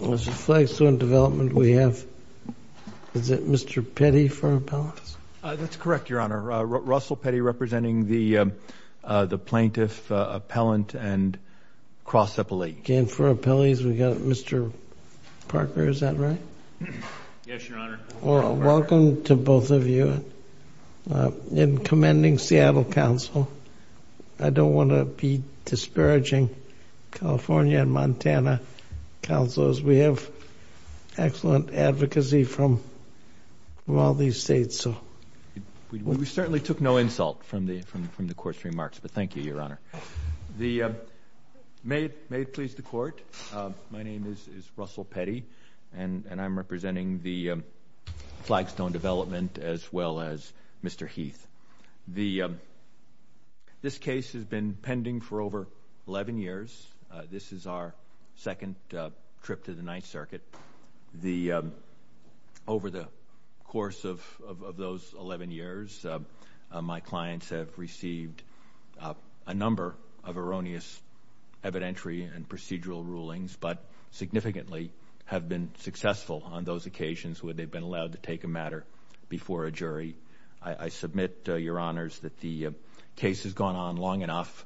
Mr. Flagstone Development, we have, is it Mr. Petty for appellants? That's correct, Your Honor. Russell Petty representing the plaintiff, appellant, and cross-appellate. And for appellees, we've got Mr. Parker, is that right? Yes, Your Honor. Well, welcome to both of you. In commending Seattle Council, I don't want to be disparaging California and Montana Councils. We have excellent advocacy from all these states. We certainly took no insult from the Court's remarks, but thank you, Your Honor. May it please the Court, my name is Russell Petty, and I'm representing the Flagstone Development as well as Mr. Heath. This case has been pending for over 11 years. This is our second trip to the Ninth Circuit. Over the course of those 11 years, my clients have received a number of erroneous evidentiary and procedural rulings, but significantly have been successful on those occasions where they've been allowed to take a matter before a jury. I submit, Your Honors, that the case has gone on long enough,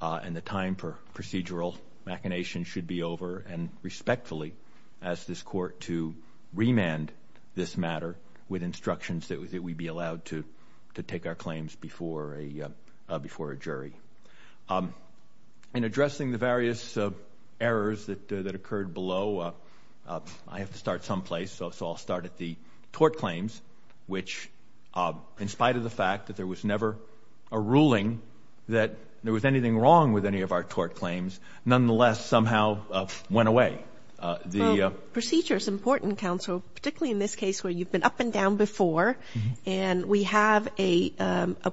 and the time for procedural machination should be over, and respectfully ask this Court to remand this matter with instructions that we be allowed to take our claims before a jury. In addressing the various errors that occurred below, I have to start someplace, so I'll start at the tort claims, which, in spite of the fact that there was never a ruling that there was anything wrong with any of our tort claims, nonetheless somehow went away. Procedure is important, Counsel, particularly in this case where you've been up and down before, and we have a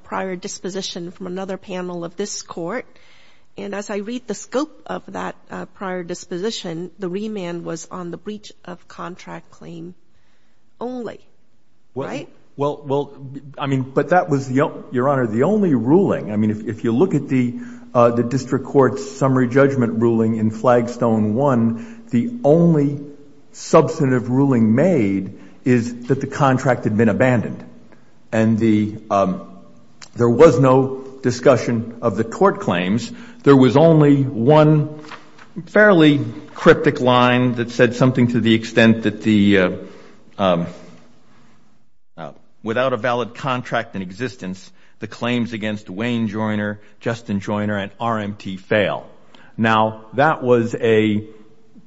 prior disposition from another panel of this Court, and as I read the scope of that prior disposition, the remand was on the breach of contract claim only, right? Well, I mean, but that was, Your Honor, the only ruling. I mean, if you look at the district court's summary judgment ruling in Flagstone 1, the only substantive ruling made is that the contract had been abandoned, and there was no discussion of the tort claims. There was only one fairly cryptic line that said something to the extent that the, without a valid contract in existence, the claims against Wayne Joyner, Justin Joyner, and RMT fail. Now, that was a,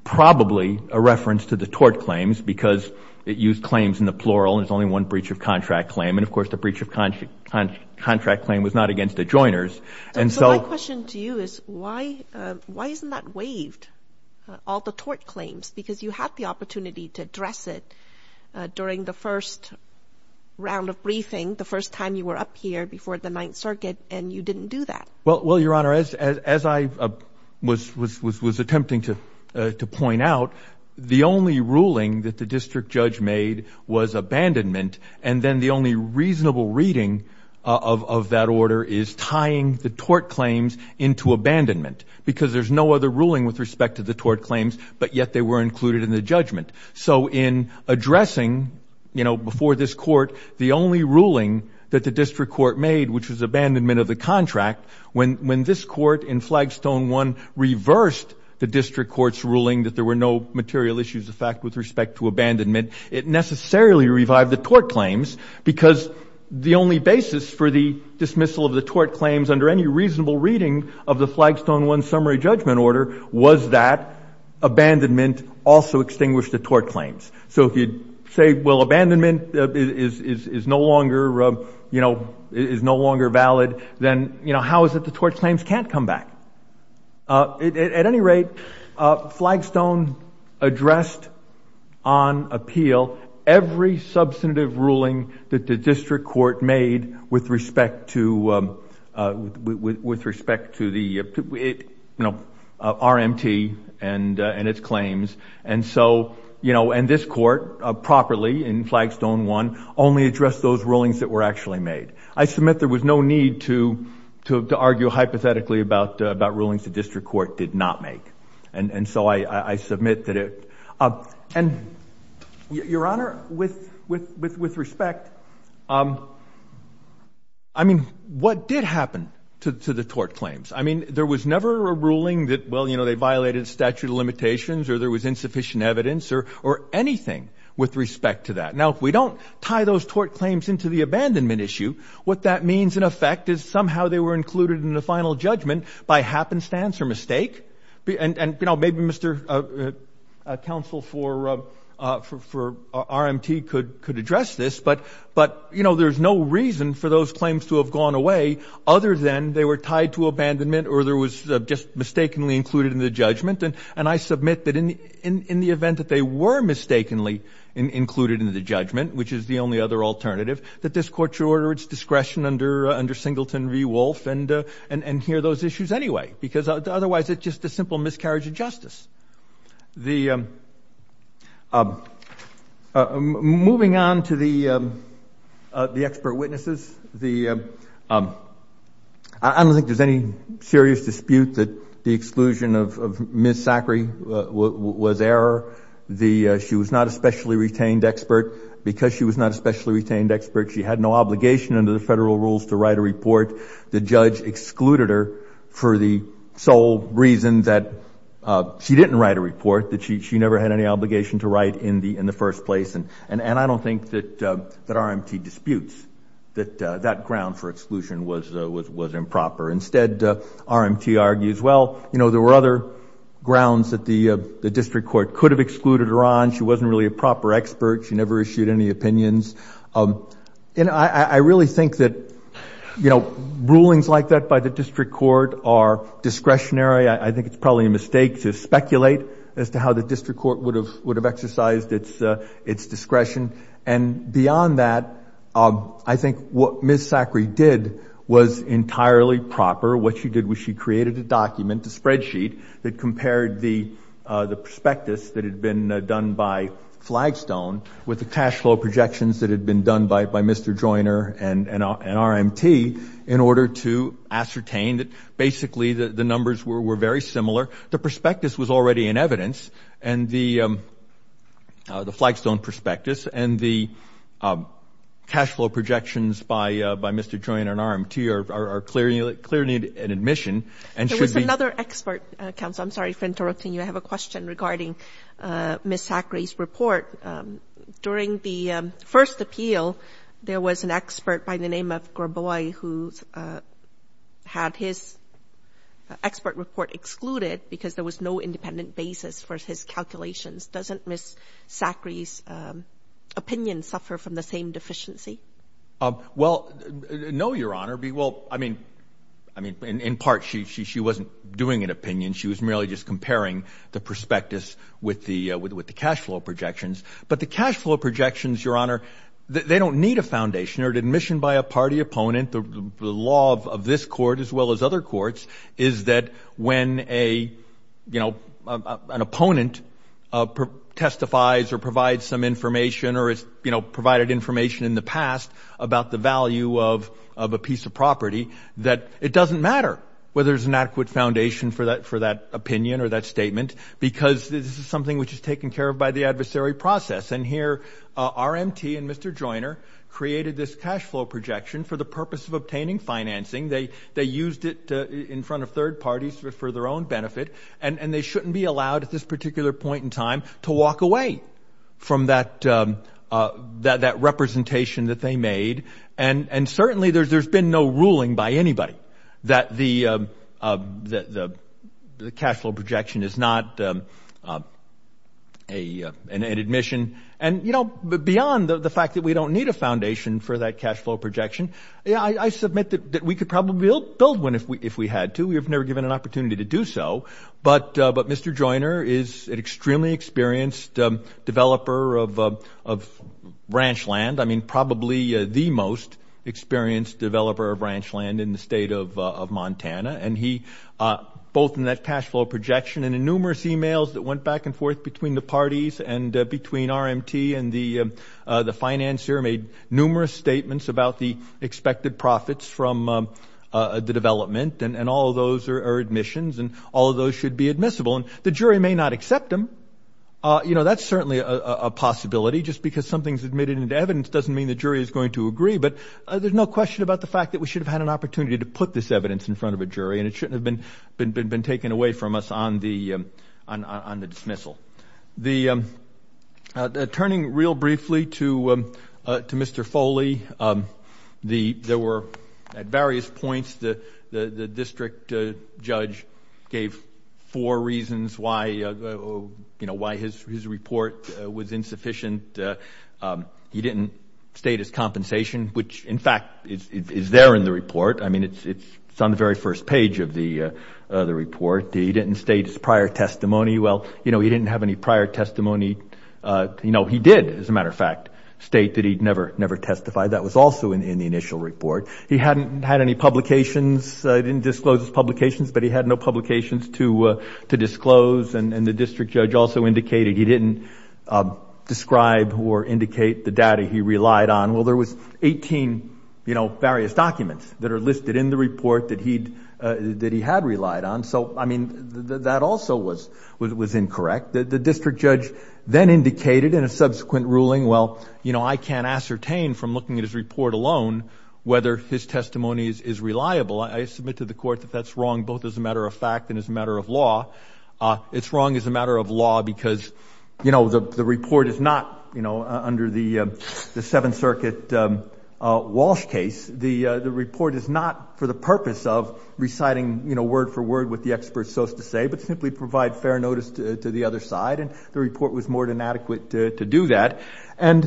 probably a reference to the tort claims, because it used claims in the plural, and there's only one breach of contract claim, and, of course, the breach of contract claim was not against the Joyners. So my question to you is, why isn't that waived, all the tort claims? Because you had the opportunity to address it during the first round of briefing, the first time you were up here before the Ninth Circuit, and you didn't do that. Well, Your Honor, as I was attempting to point out, the only ruling that the district judge made was abandonment, and then the only reasonable reading of that order is tying the tort claims into abandonment, because there's no other ruling with respect to the tort claims, but yet they were included in the judgment. So in addressing, you know, before this court, the only ruling that the district court made, which was abandonment of the contract, when this court in Flagstone 1 reversed the district court's ruling that there were no material issues of fact with respect to abandonment, it necessarily revived the tort claims, because the only basis for the dismissal of the tort claims under any reasonable reading of the Flagstone 1 summary judgment order was that abandonment also extinguished the tort claims. So if you say, well, abandonment is no longer, you know, is no longer valid, then, you know, how is it the tort claims can't come back? At any rate, Flagstone addressed on appeal every substantive ruling that the district court made with respect to the, you know, RMT and its claims. And so, you know, and this court properly in Flagstone 1 only addressed those rulings that were actually made. I submit there was no need to argue hypothetically about rulings the district court did not make. And so I submit that it. And, Your Honor, with respect, I mean, what did happen to the tort claims? I mean, there was never a ruling that, well, you know, they violated statute of limitations or there was insufficient evidence or anything with respect to that. Now, if we don't tie those tort claims into the abandonment issue, what that means, in effect, is somehow they were included in the final judgment by happenstance or mistake. And, you know, maybe Mr. Counsel for RMT could address this. But, you know, there's no reason for those claims to have gone away other than they were tied to abandonment or there was just mistakenly included in the judgment. And I submit that in the event that they were mistakenly included in the judgment, which is the only other alternative, that this court should order its discretion under Singleton v. Wolfe and hear those issues anyway, because otherwise it's just a simple miscarriage of justice. Moving on to the expert witnesses. I don't think there's any serious dispute that the exclusion of Ms. Zachary was error. She was not a specially retained expert. Because she was not a specially retained expert, she had no obligation under the federal rules to write a report. The judge excluded her for the sole reason that she didn't write a report, that she never had any obligation to write in the first place. And I don't think that RMT disputes that that ground for exclusion was improper. Instead, RMT argues, well, you know, there were other grounds that the district court could have excluded her on. She wasn't really a proper expert. She never issued any opinions. And I really think that, you know, rulings like that by the district court are discretionary. I think it's probably a mistake to speculate as to how the district court would have exercised its discretion. And beyond that, I think what Ms. Zachary did was entirely proper. What she did was she created a document, a spreadsheet, that compared the prospectus that had been done by Flagstone with the cash flow projections that had been done by Mr. Joyner and RMT in order to ascertain that basically the numbers were very similar. The prospectus was already in evidence. And the Flagstone prospectus and the cash flow projections by Mr. Joyner and RMT are clearly in admission. There was another expert, counsel. I'm sorry for interrupting you. I have a question regarding Ms. Zachary's report. During the first appeal, there was an expert by the name of Grabois who had his expert report excluded because there was no independent basis for his calculations. Doesn't Ms. Zachary's opinion suffer from the same deficiency? Well, no, Your Honor. Well, I mean, in part, she wasn't doing an opinion. She was merely just comparing the prospectus with the cash flow projections. But the cash flow projections, Your Honor, they don't need a foundation. Admission by a party opponent, the law of this court as well as other courts, is that when an opponent testifies or provides some information or has provided information in the past about the value of a piece of property, that it doesn't matter whether there's an adequate foundation for that opinion or that statement because this is something which is taken care of by the adversary process. And here, RMT and Mr. Joyner created this cash flow projection for the purpose of obtaining financing. They used it in front of third parties for their own benefit, and they shouldn't be allowed at this particular point in time to walk away from that representation that they made. And certainly there's been no ruling by anybody that the cash flow projection is not an admission. And, you know, beyond the fact that we don't need a foundation for that cash flow projection, I submit that we could probably build one if we had to. We have never given an opportunity to do so. But Mr. Joyner is an extremely experienced developer of ranch land, I mean probably the most experienced developer of ranch land in the state of Montana. And he both in that cash flow projection and in numerous e-mails that went back and forth between the parties and between RMT and the financier made numerous statements about the expected profits from the development, and all of those are admissions and all of those should be admissible. And the jury may not accept them. You know, that's certainly a possibility. Just because something's admitted into evidence doesn't mean the jury is going to agree. But there's no question about the fact that we should have had an opportunity to put this evidence in front of a jury, and it shouldn't have been taken away from us on the dismissal. Turning real briefly to Mr. Foley, there were at various points the district judge gave four reasons why, you know, why his report was insufficient. He didn't state his compensation, which, in fact, is there in the report. I mean it's on the very first page of the report. He didn't state his prior testimony. Well, you know, he didn't have any prior testimony. You know, he did, as a matter of fact, state that he'd never testified. That was also in the initial report. He hadn't had any publications. He didn't disclose his publications, but he had no publications to disclose. And the district judge also indicated he didn't describe or indicate the data he relied on. Well, there was 18, you know, various documents that are listed in the report that he had relied on. So, I mean, that also was incorrect. The district judge then indicated in a subsequent ruling, well, you know, I can't ascertain from looking at his report alone whether his testimony is reliable. I submit to the court that that's wrong both as a matter of fact and as a matter of law. It's wrong as a matter of law because, you know, the report is not, you know, under the Seventh Circuit Walsh case. The report is not for the purpose of reciting, you know, word for word what the experts chose to say, but simply provide fair notice to the other side. And the report was more than adequate to do that. And,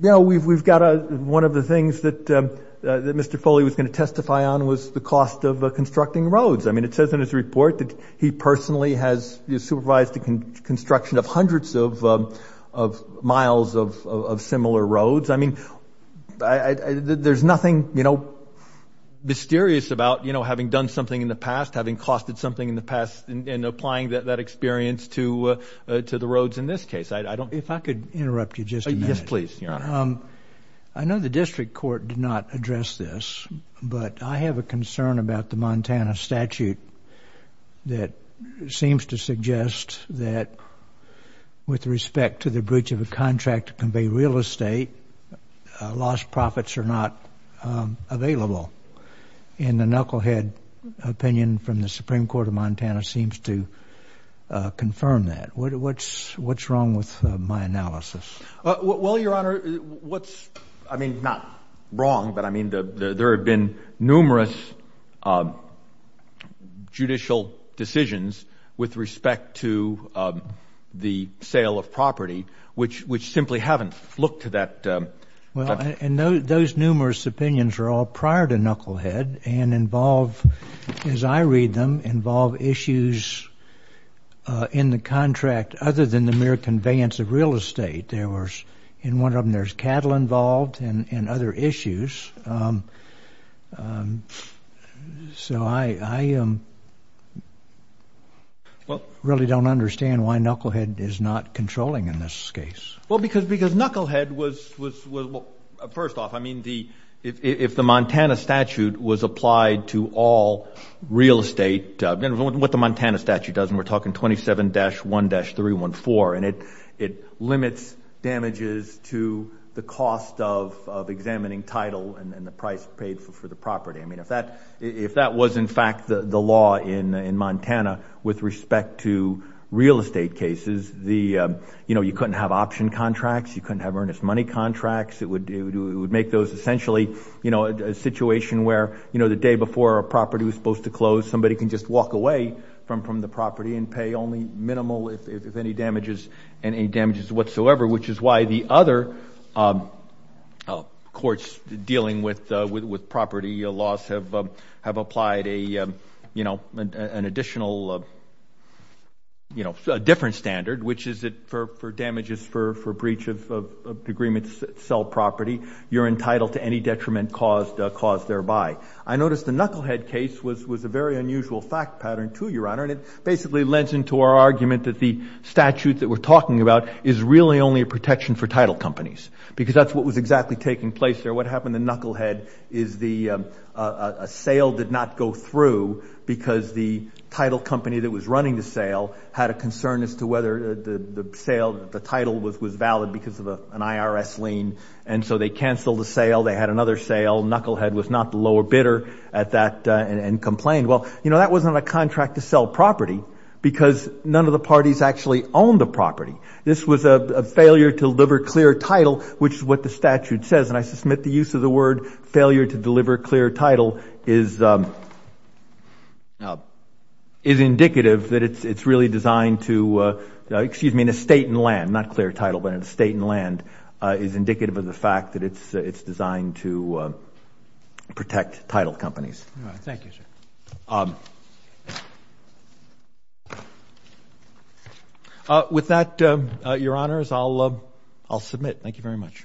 you know, we've got one of the things that Mr. Foley was going to testify on was the cost of constructing roads. I mean, it says in his report that he personally has supervised the construction of hundreds of miles of similar roads. I mean, there's nothing, you know, mysterious about, you know, having done something in the past, having costed something in the past and applying that experience to the roads in this case. If I could interrupt you just a minute. Yes, please, Your Honor. I know the district court did not address this, but I have a concern about the Montana statute that seems to suggest that with respect to the breach of a contract to convey real estate, lost profits are not available. And the knucklehead opinion from the Supreme Court of Montana seems to confirm that. What's wrong with my analysis? Well, Your Honor, what's, I mean, not wrong, but I mean, there have been numerous judicial decisions with respect to the sale of property, which simply haven't looked to that. Well, and those numerous opinions are all prior to knucklehead and involve, as I read them, involve issues in the contract other than the mere conveyance of real estate. There was in one of them there's cattle involved and other issues. So I really don't understand why knucklehead is not controlling in this case. Well, because knucklehead was, first off, I mean, if the Montana statute was applied to all real estate, what the Montana statute does, and we're talking 27-1-314, and it limits damages to the cost of examining title and the price paid for the property. I mean, if that was, in fact, the law in Montana with respect to real estate cases, you know, you couldn't have option contracts, you couldn't have earnest money contracts. It would make those essentially, you know, a situation where, you know, the day before a property was supposed to close, somebody can just walk away from the property and pay only minimal if any damages, any damages whatsoever, which is why the other courts dealing with property loss have applied a, you know, an additional, you know, different standard, which is that for damages for breach of an agreement to sell property, you're entitled to any detriment caused thereby. I noticed the knucklehead case was a very unusual fact pattern, too, Your Honor, and it basically lends into our argument that the statute that we're talking about is really only a protection for title companies because that's what was exactly taking place there. What happened to knucklehead is the sale did not go through because the title company that was running the sale had a concern as to whether the sale, the title was valid because of an IRS lien, and so they canceled the sale. They had another sale. Knucklehead was not the lower bidder at that and complained. Well, you know, that wasn't a contract to sell property because none of the parties actually owned the property. This was a failure to deliver clear title, which is what the statute says, and I submit the use of the word failure to deliver clear title is indicative that it's really designed to, excuse me, an estate in land, not clear title, but an estate in land is indicative of the fact that it's designed to protect title companies. Thank you, sir. With that, Your Honors, I'll submit. Thank you very much.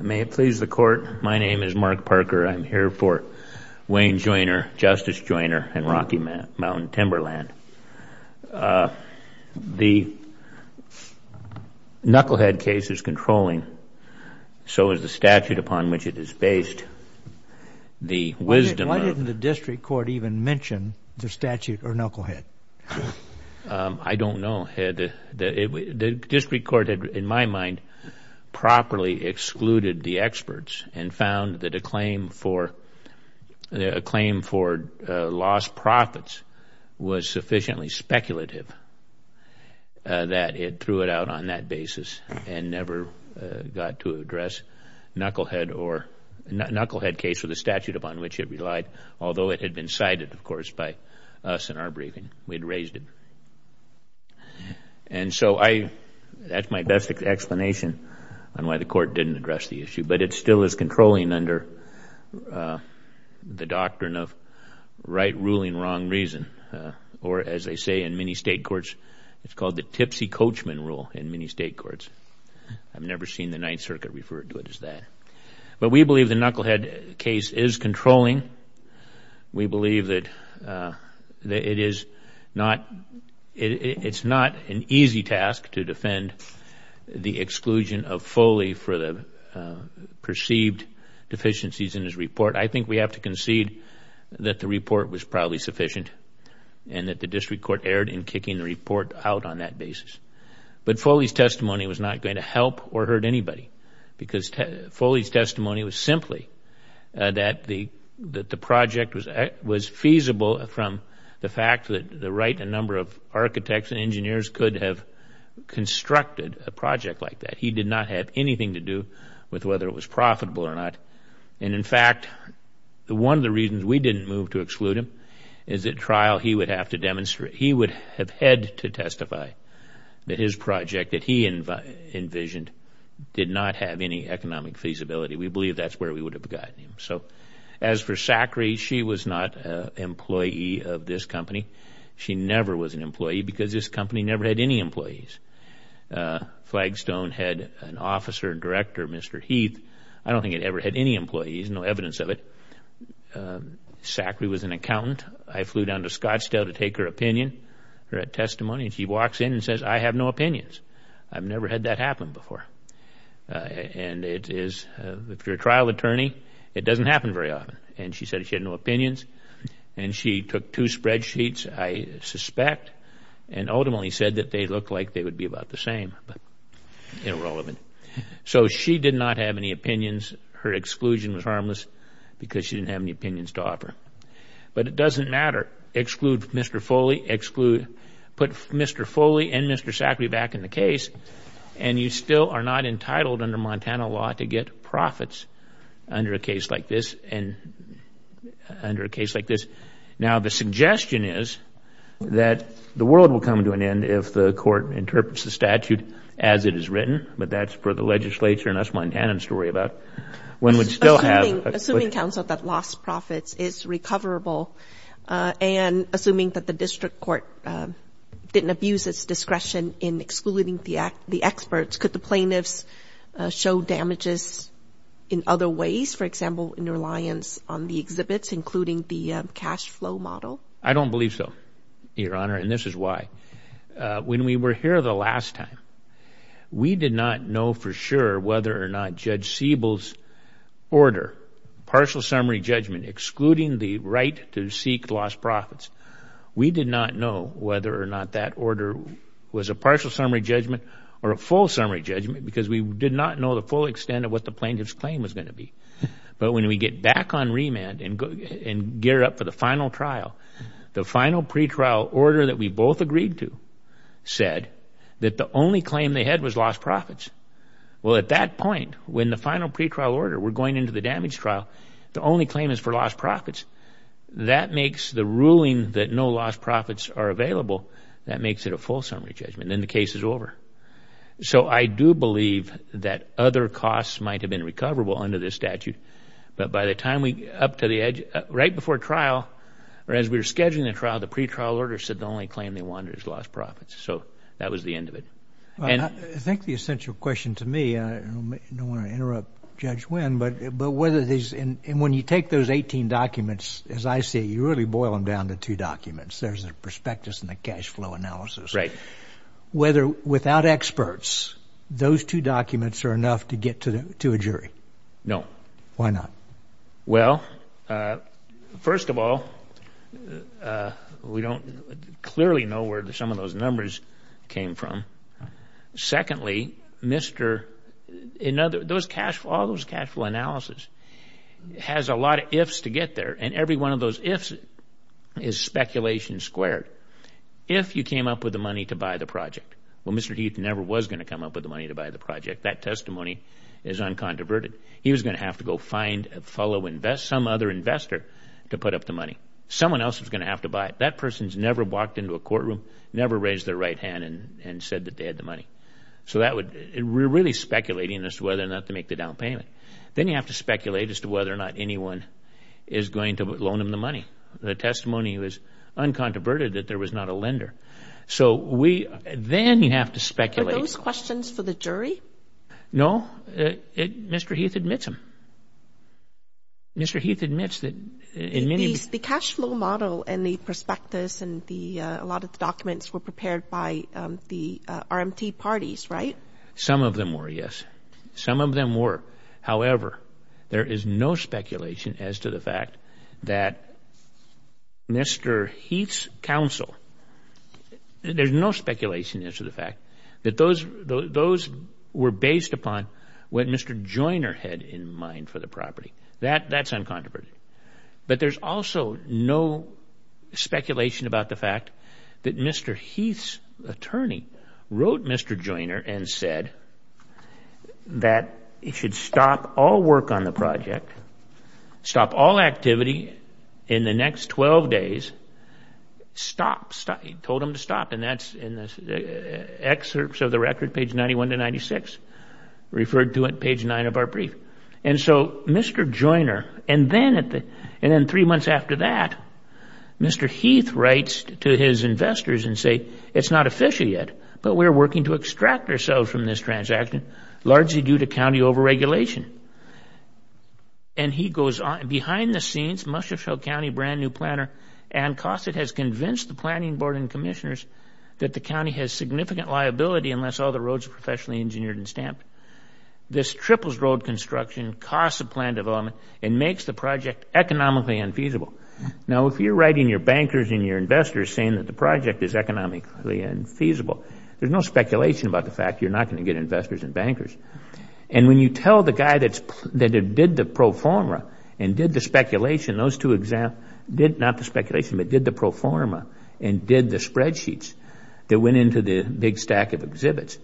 May it please the Court, my name is Mark Parker. I'm here for Wayne Joiner, Justice Joiner, and Rocky Mountain Timberland. The knucklehead case is controlling, so is the statute upon which it is based. Why didn't the district court even mention the statute or knucklehead? I don't know. The district court, in my mind, properly excluded the experts and found that a claim for lost profits was sufficiently speculative that it threw it out on that basis and never got to address knucklehead case or the statute upon which it relied, although it had been cited, of course, by us in our briefing. We had raised it. And so that's my best explanation on why the court didn't address the issue, but it still is controlling under the doctrine of right ruling wrong reason, or as they say in many state courts, it's called the tipsy coachman rule in many state courts. I've never seen the Ninth Circuit refer to it as that. But we believe the knucklehead case is controlling. We believe that it is not an easy task to defend the exclusion of Foley for the perceived deficiencies in his report. I think we have to concede that the report was probably sufficient and that the district court erred in kicking the report out on that basis. But Foley's testimony was not going to help or hurt anybody because Foley's testimony was simply that the project was feasible from the fact that the right number of architects and engineers could have constructed a project like that. He did not have anything to do with whether it was profitable or not. And, in fact, one of the reasons we didn't move to exclude him is at trial he would have had to testify that his project that he envisioned did not have any economic feasibility. We believe that's where we would have gotten him. So as for Zachary, she was not an employee of this company. She never was an employee because this company never had any employees. Flagstone had an officer and director, Mr. Heath. I don't think it ever had any employees, no evidence of it. Zachary was an accountant. I flew down to Scottsdale to take her opinion, her testimony, and she walks in and says, I have no opinions. I've never had that happen before. And if you're a trial attorney, it doesn't happen very often. And she said she had no opinions. And she took two spreadsheets, I suspect, and ultimately said that they looked like they would be about the same, but irrelevant. So she did not have any opinions. Her exclusion was harmless because she didn't have any opinions to offer. But it doesn't matter. Exclude Mr. Foley, put Mr. Foley and Mr. Zachary back in the case, and you still are not entitled under Montana law to get profits under a case like this. Now, the suggestion is that the world will come to an end if the court interprets the statute as it is written, but that's for the legislature and us Montanans to worry about. Assuming counsel that lost profits is recoverable and assuming that the district court didn't abuse its discretion in excluding the experts, could the plaintiffs show damages in other ways, for example, in reliance on the exhibits, including the cash flow model? I don't believe so, Your Honor, and this is why. When we were here the last time, we did not know for sure whether or not Judge Siebel's order, partial summary judgment, excluding the right to seek lost profits, we did not know whether or not that order was a partial summary judgment or a full summary judgment because we did not know the full extent of what the plaintiff's claim was going to be. But when we get back on remand and gear up for the final trial, the final pretrial order that we both agreed to said that the only claim they had was lost profits. Well, at that point, when the final pretrial order, we're going into the damage trial, the only claim is for lost profits. That makes the ruling that no lost profits are available, that makes it a full summary judgment, and then the case is over. So I do believe that other costs might have been recoverable under this statute, but by the time we get up to the edge, right before trial, or as we were scheduling the trial, the pretrial order said the only claim they wanted was lost profits. So that was the end of it. I think the essential question to me, and I don't want to interrupt Judge Wynn, but whether these, and when you take those 18 documents, as I see it, you really boil them down to two documents. There's the prospectus and the cash flow analysis. Right. Without experts, those two documents are enough to get to a jury? No. Why not? Well, first of all, we don't clearly know where some of those numbers came from. Secondly, all those cash flow analysis has a lot of ifs to get there, and every one of those ifs is speculation squared. If you came up with the money to buy the project, well, Mr. Heath never was going to come up with the money to buy the project. That testimony is uncontroverted. He was going to have to go find some other investor to put up the money. Someone else was going to have to buy it. That person has never walked into a courtroom, never raised their right hand and said that they had the money. So we're really speculating as to whether or not to make the down payment. Then you have to speculate as to whether or not anyone is going to loan them the money. The testimony was uncontroverted that there was not a lender. So then you have to speculate. Are those questions for the jury? No. Mr. Heath admits them. Mr. Heath admits that in many of these. The cash flow model and the prospectus and a lot of the documents were prepared by the RMT parties, right? Some of them were, yes. Some of them were. However, there is no speculation as to the fact that Mr. Heath's counsel, there's no speculation as to the fact that those were based upon what Mr. Joyner had in mind for the property. That's uncontroverted. But there's also no speculation about the fact that Mr. Heath's attorney wrote Mr. Joyner and said that it should stop all work on the project, stop all activity in the next 12 days. Stop. He told them to stop. And that's in the excerpts of the record, page 91 to 96, referred to at page 9 of our brief. And so Mr. Joyner, and then three months after that, Mr. Heath writes to his investors and say, it's not official yet, but we're working to extract ourselves from this transaction, largely due to county over-regulation. And he goes on. Behind the scenes, Mushoefield County brand new planner, Ann Cossett, has convinced the planning board and commissioners that the county has significant liability unless all the roads are professionally engineered and stamped. This triples road construction, costs the plan development, and makes the project economically unfeasible. Now, if you're writing your bankers and your investors saying that the project is economically unfeasible, there's no speculation about the fact you're not going to get investors and bankers. And when you tell the guy that did the pro forma and did the spreadsheets that went into the big stack of exhibits,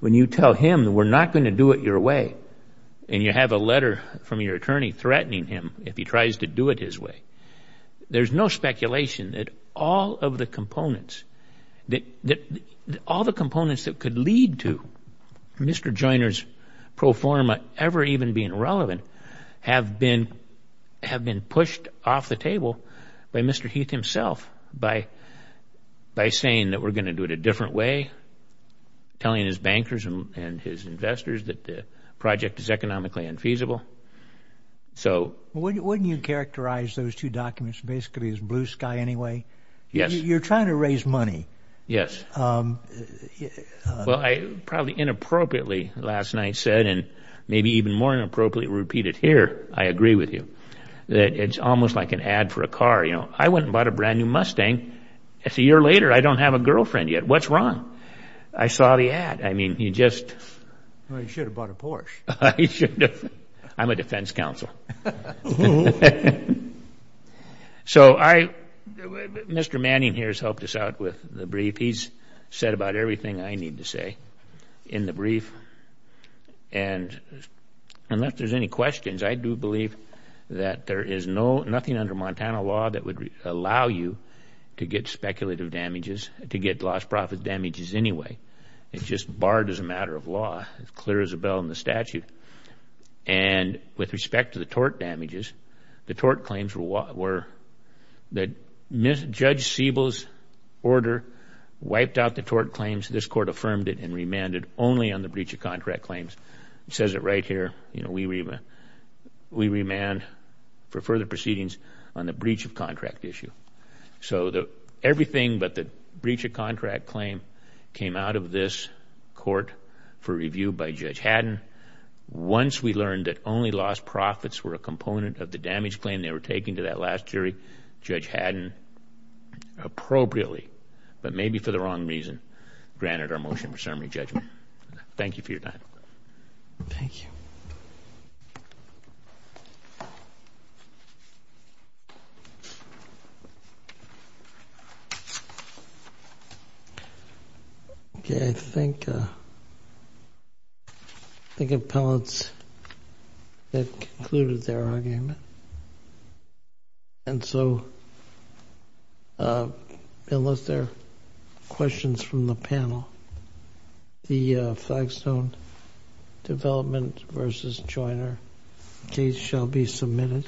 when you tell him we're not going to do it your way, and you have a letter from your attorney threatening him if he tries to do it his way, there's no speculation that all of the components that could lead to Mr. Joyner's pro forma ever even being relevant have been pushed off the table by Mr. Heath himself by saying that we're going to do it a different way, telling his bankers and his investors that the project is economically unfeasible. Wouldn't you characterize those two documents basically as blue sky anyway? Yes. You're trying to raise money. Yes. Well, I probably inappropriately last night said, and maybe even more inappropriately repeated here, I agree with you, that it's almost like an ad for a car. You know, I went and bought a brand new Mustang. A year later, I don't have a girlfriend yet. What's wrong? I saw the ad. I mean, you just... Well, you should have bought a Porsche. I should have. I'm a defense counsel. So Mr. Manning here has helped us out with the brief. He's said about everything I need to say in the brief. And unless there's any questions, I do believe that there is nothing under Montana law that would allow you to get speculative damages, to get lost profit damages anyway. It's just barred as a matter of law. It's clear as a bell in the statute. And with respect to the tort damages, the tort claims were that Judge Siebel's order wiped out the tort claims. This Court affirmed it and remanded only on the breach of contract claims. It says it right here. You know, we remand for further proceedings on the breach of contract issue. So everything but the breach of contract claim came out of this Court for review by Judge Haddon. Once we learned that only lost profits were a component of the damage claim they were taking to that last jury, Judge Haddon appropriately, but maybe for the wrong reason, granted our motion for summary judgment. Thank you for your time. Thank you. Okay, I think appellants have concluded their argument. And so unless there are questions from the panel, the Flagstone Development v. Joyner case shall be submitted.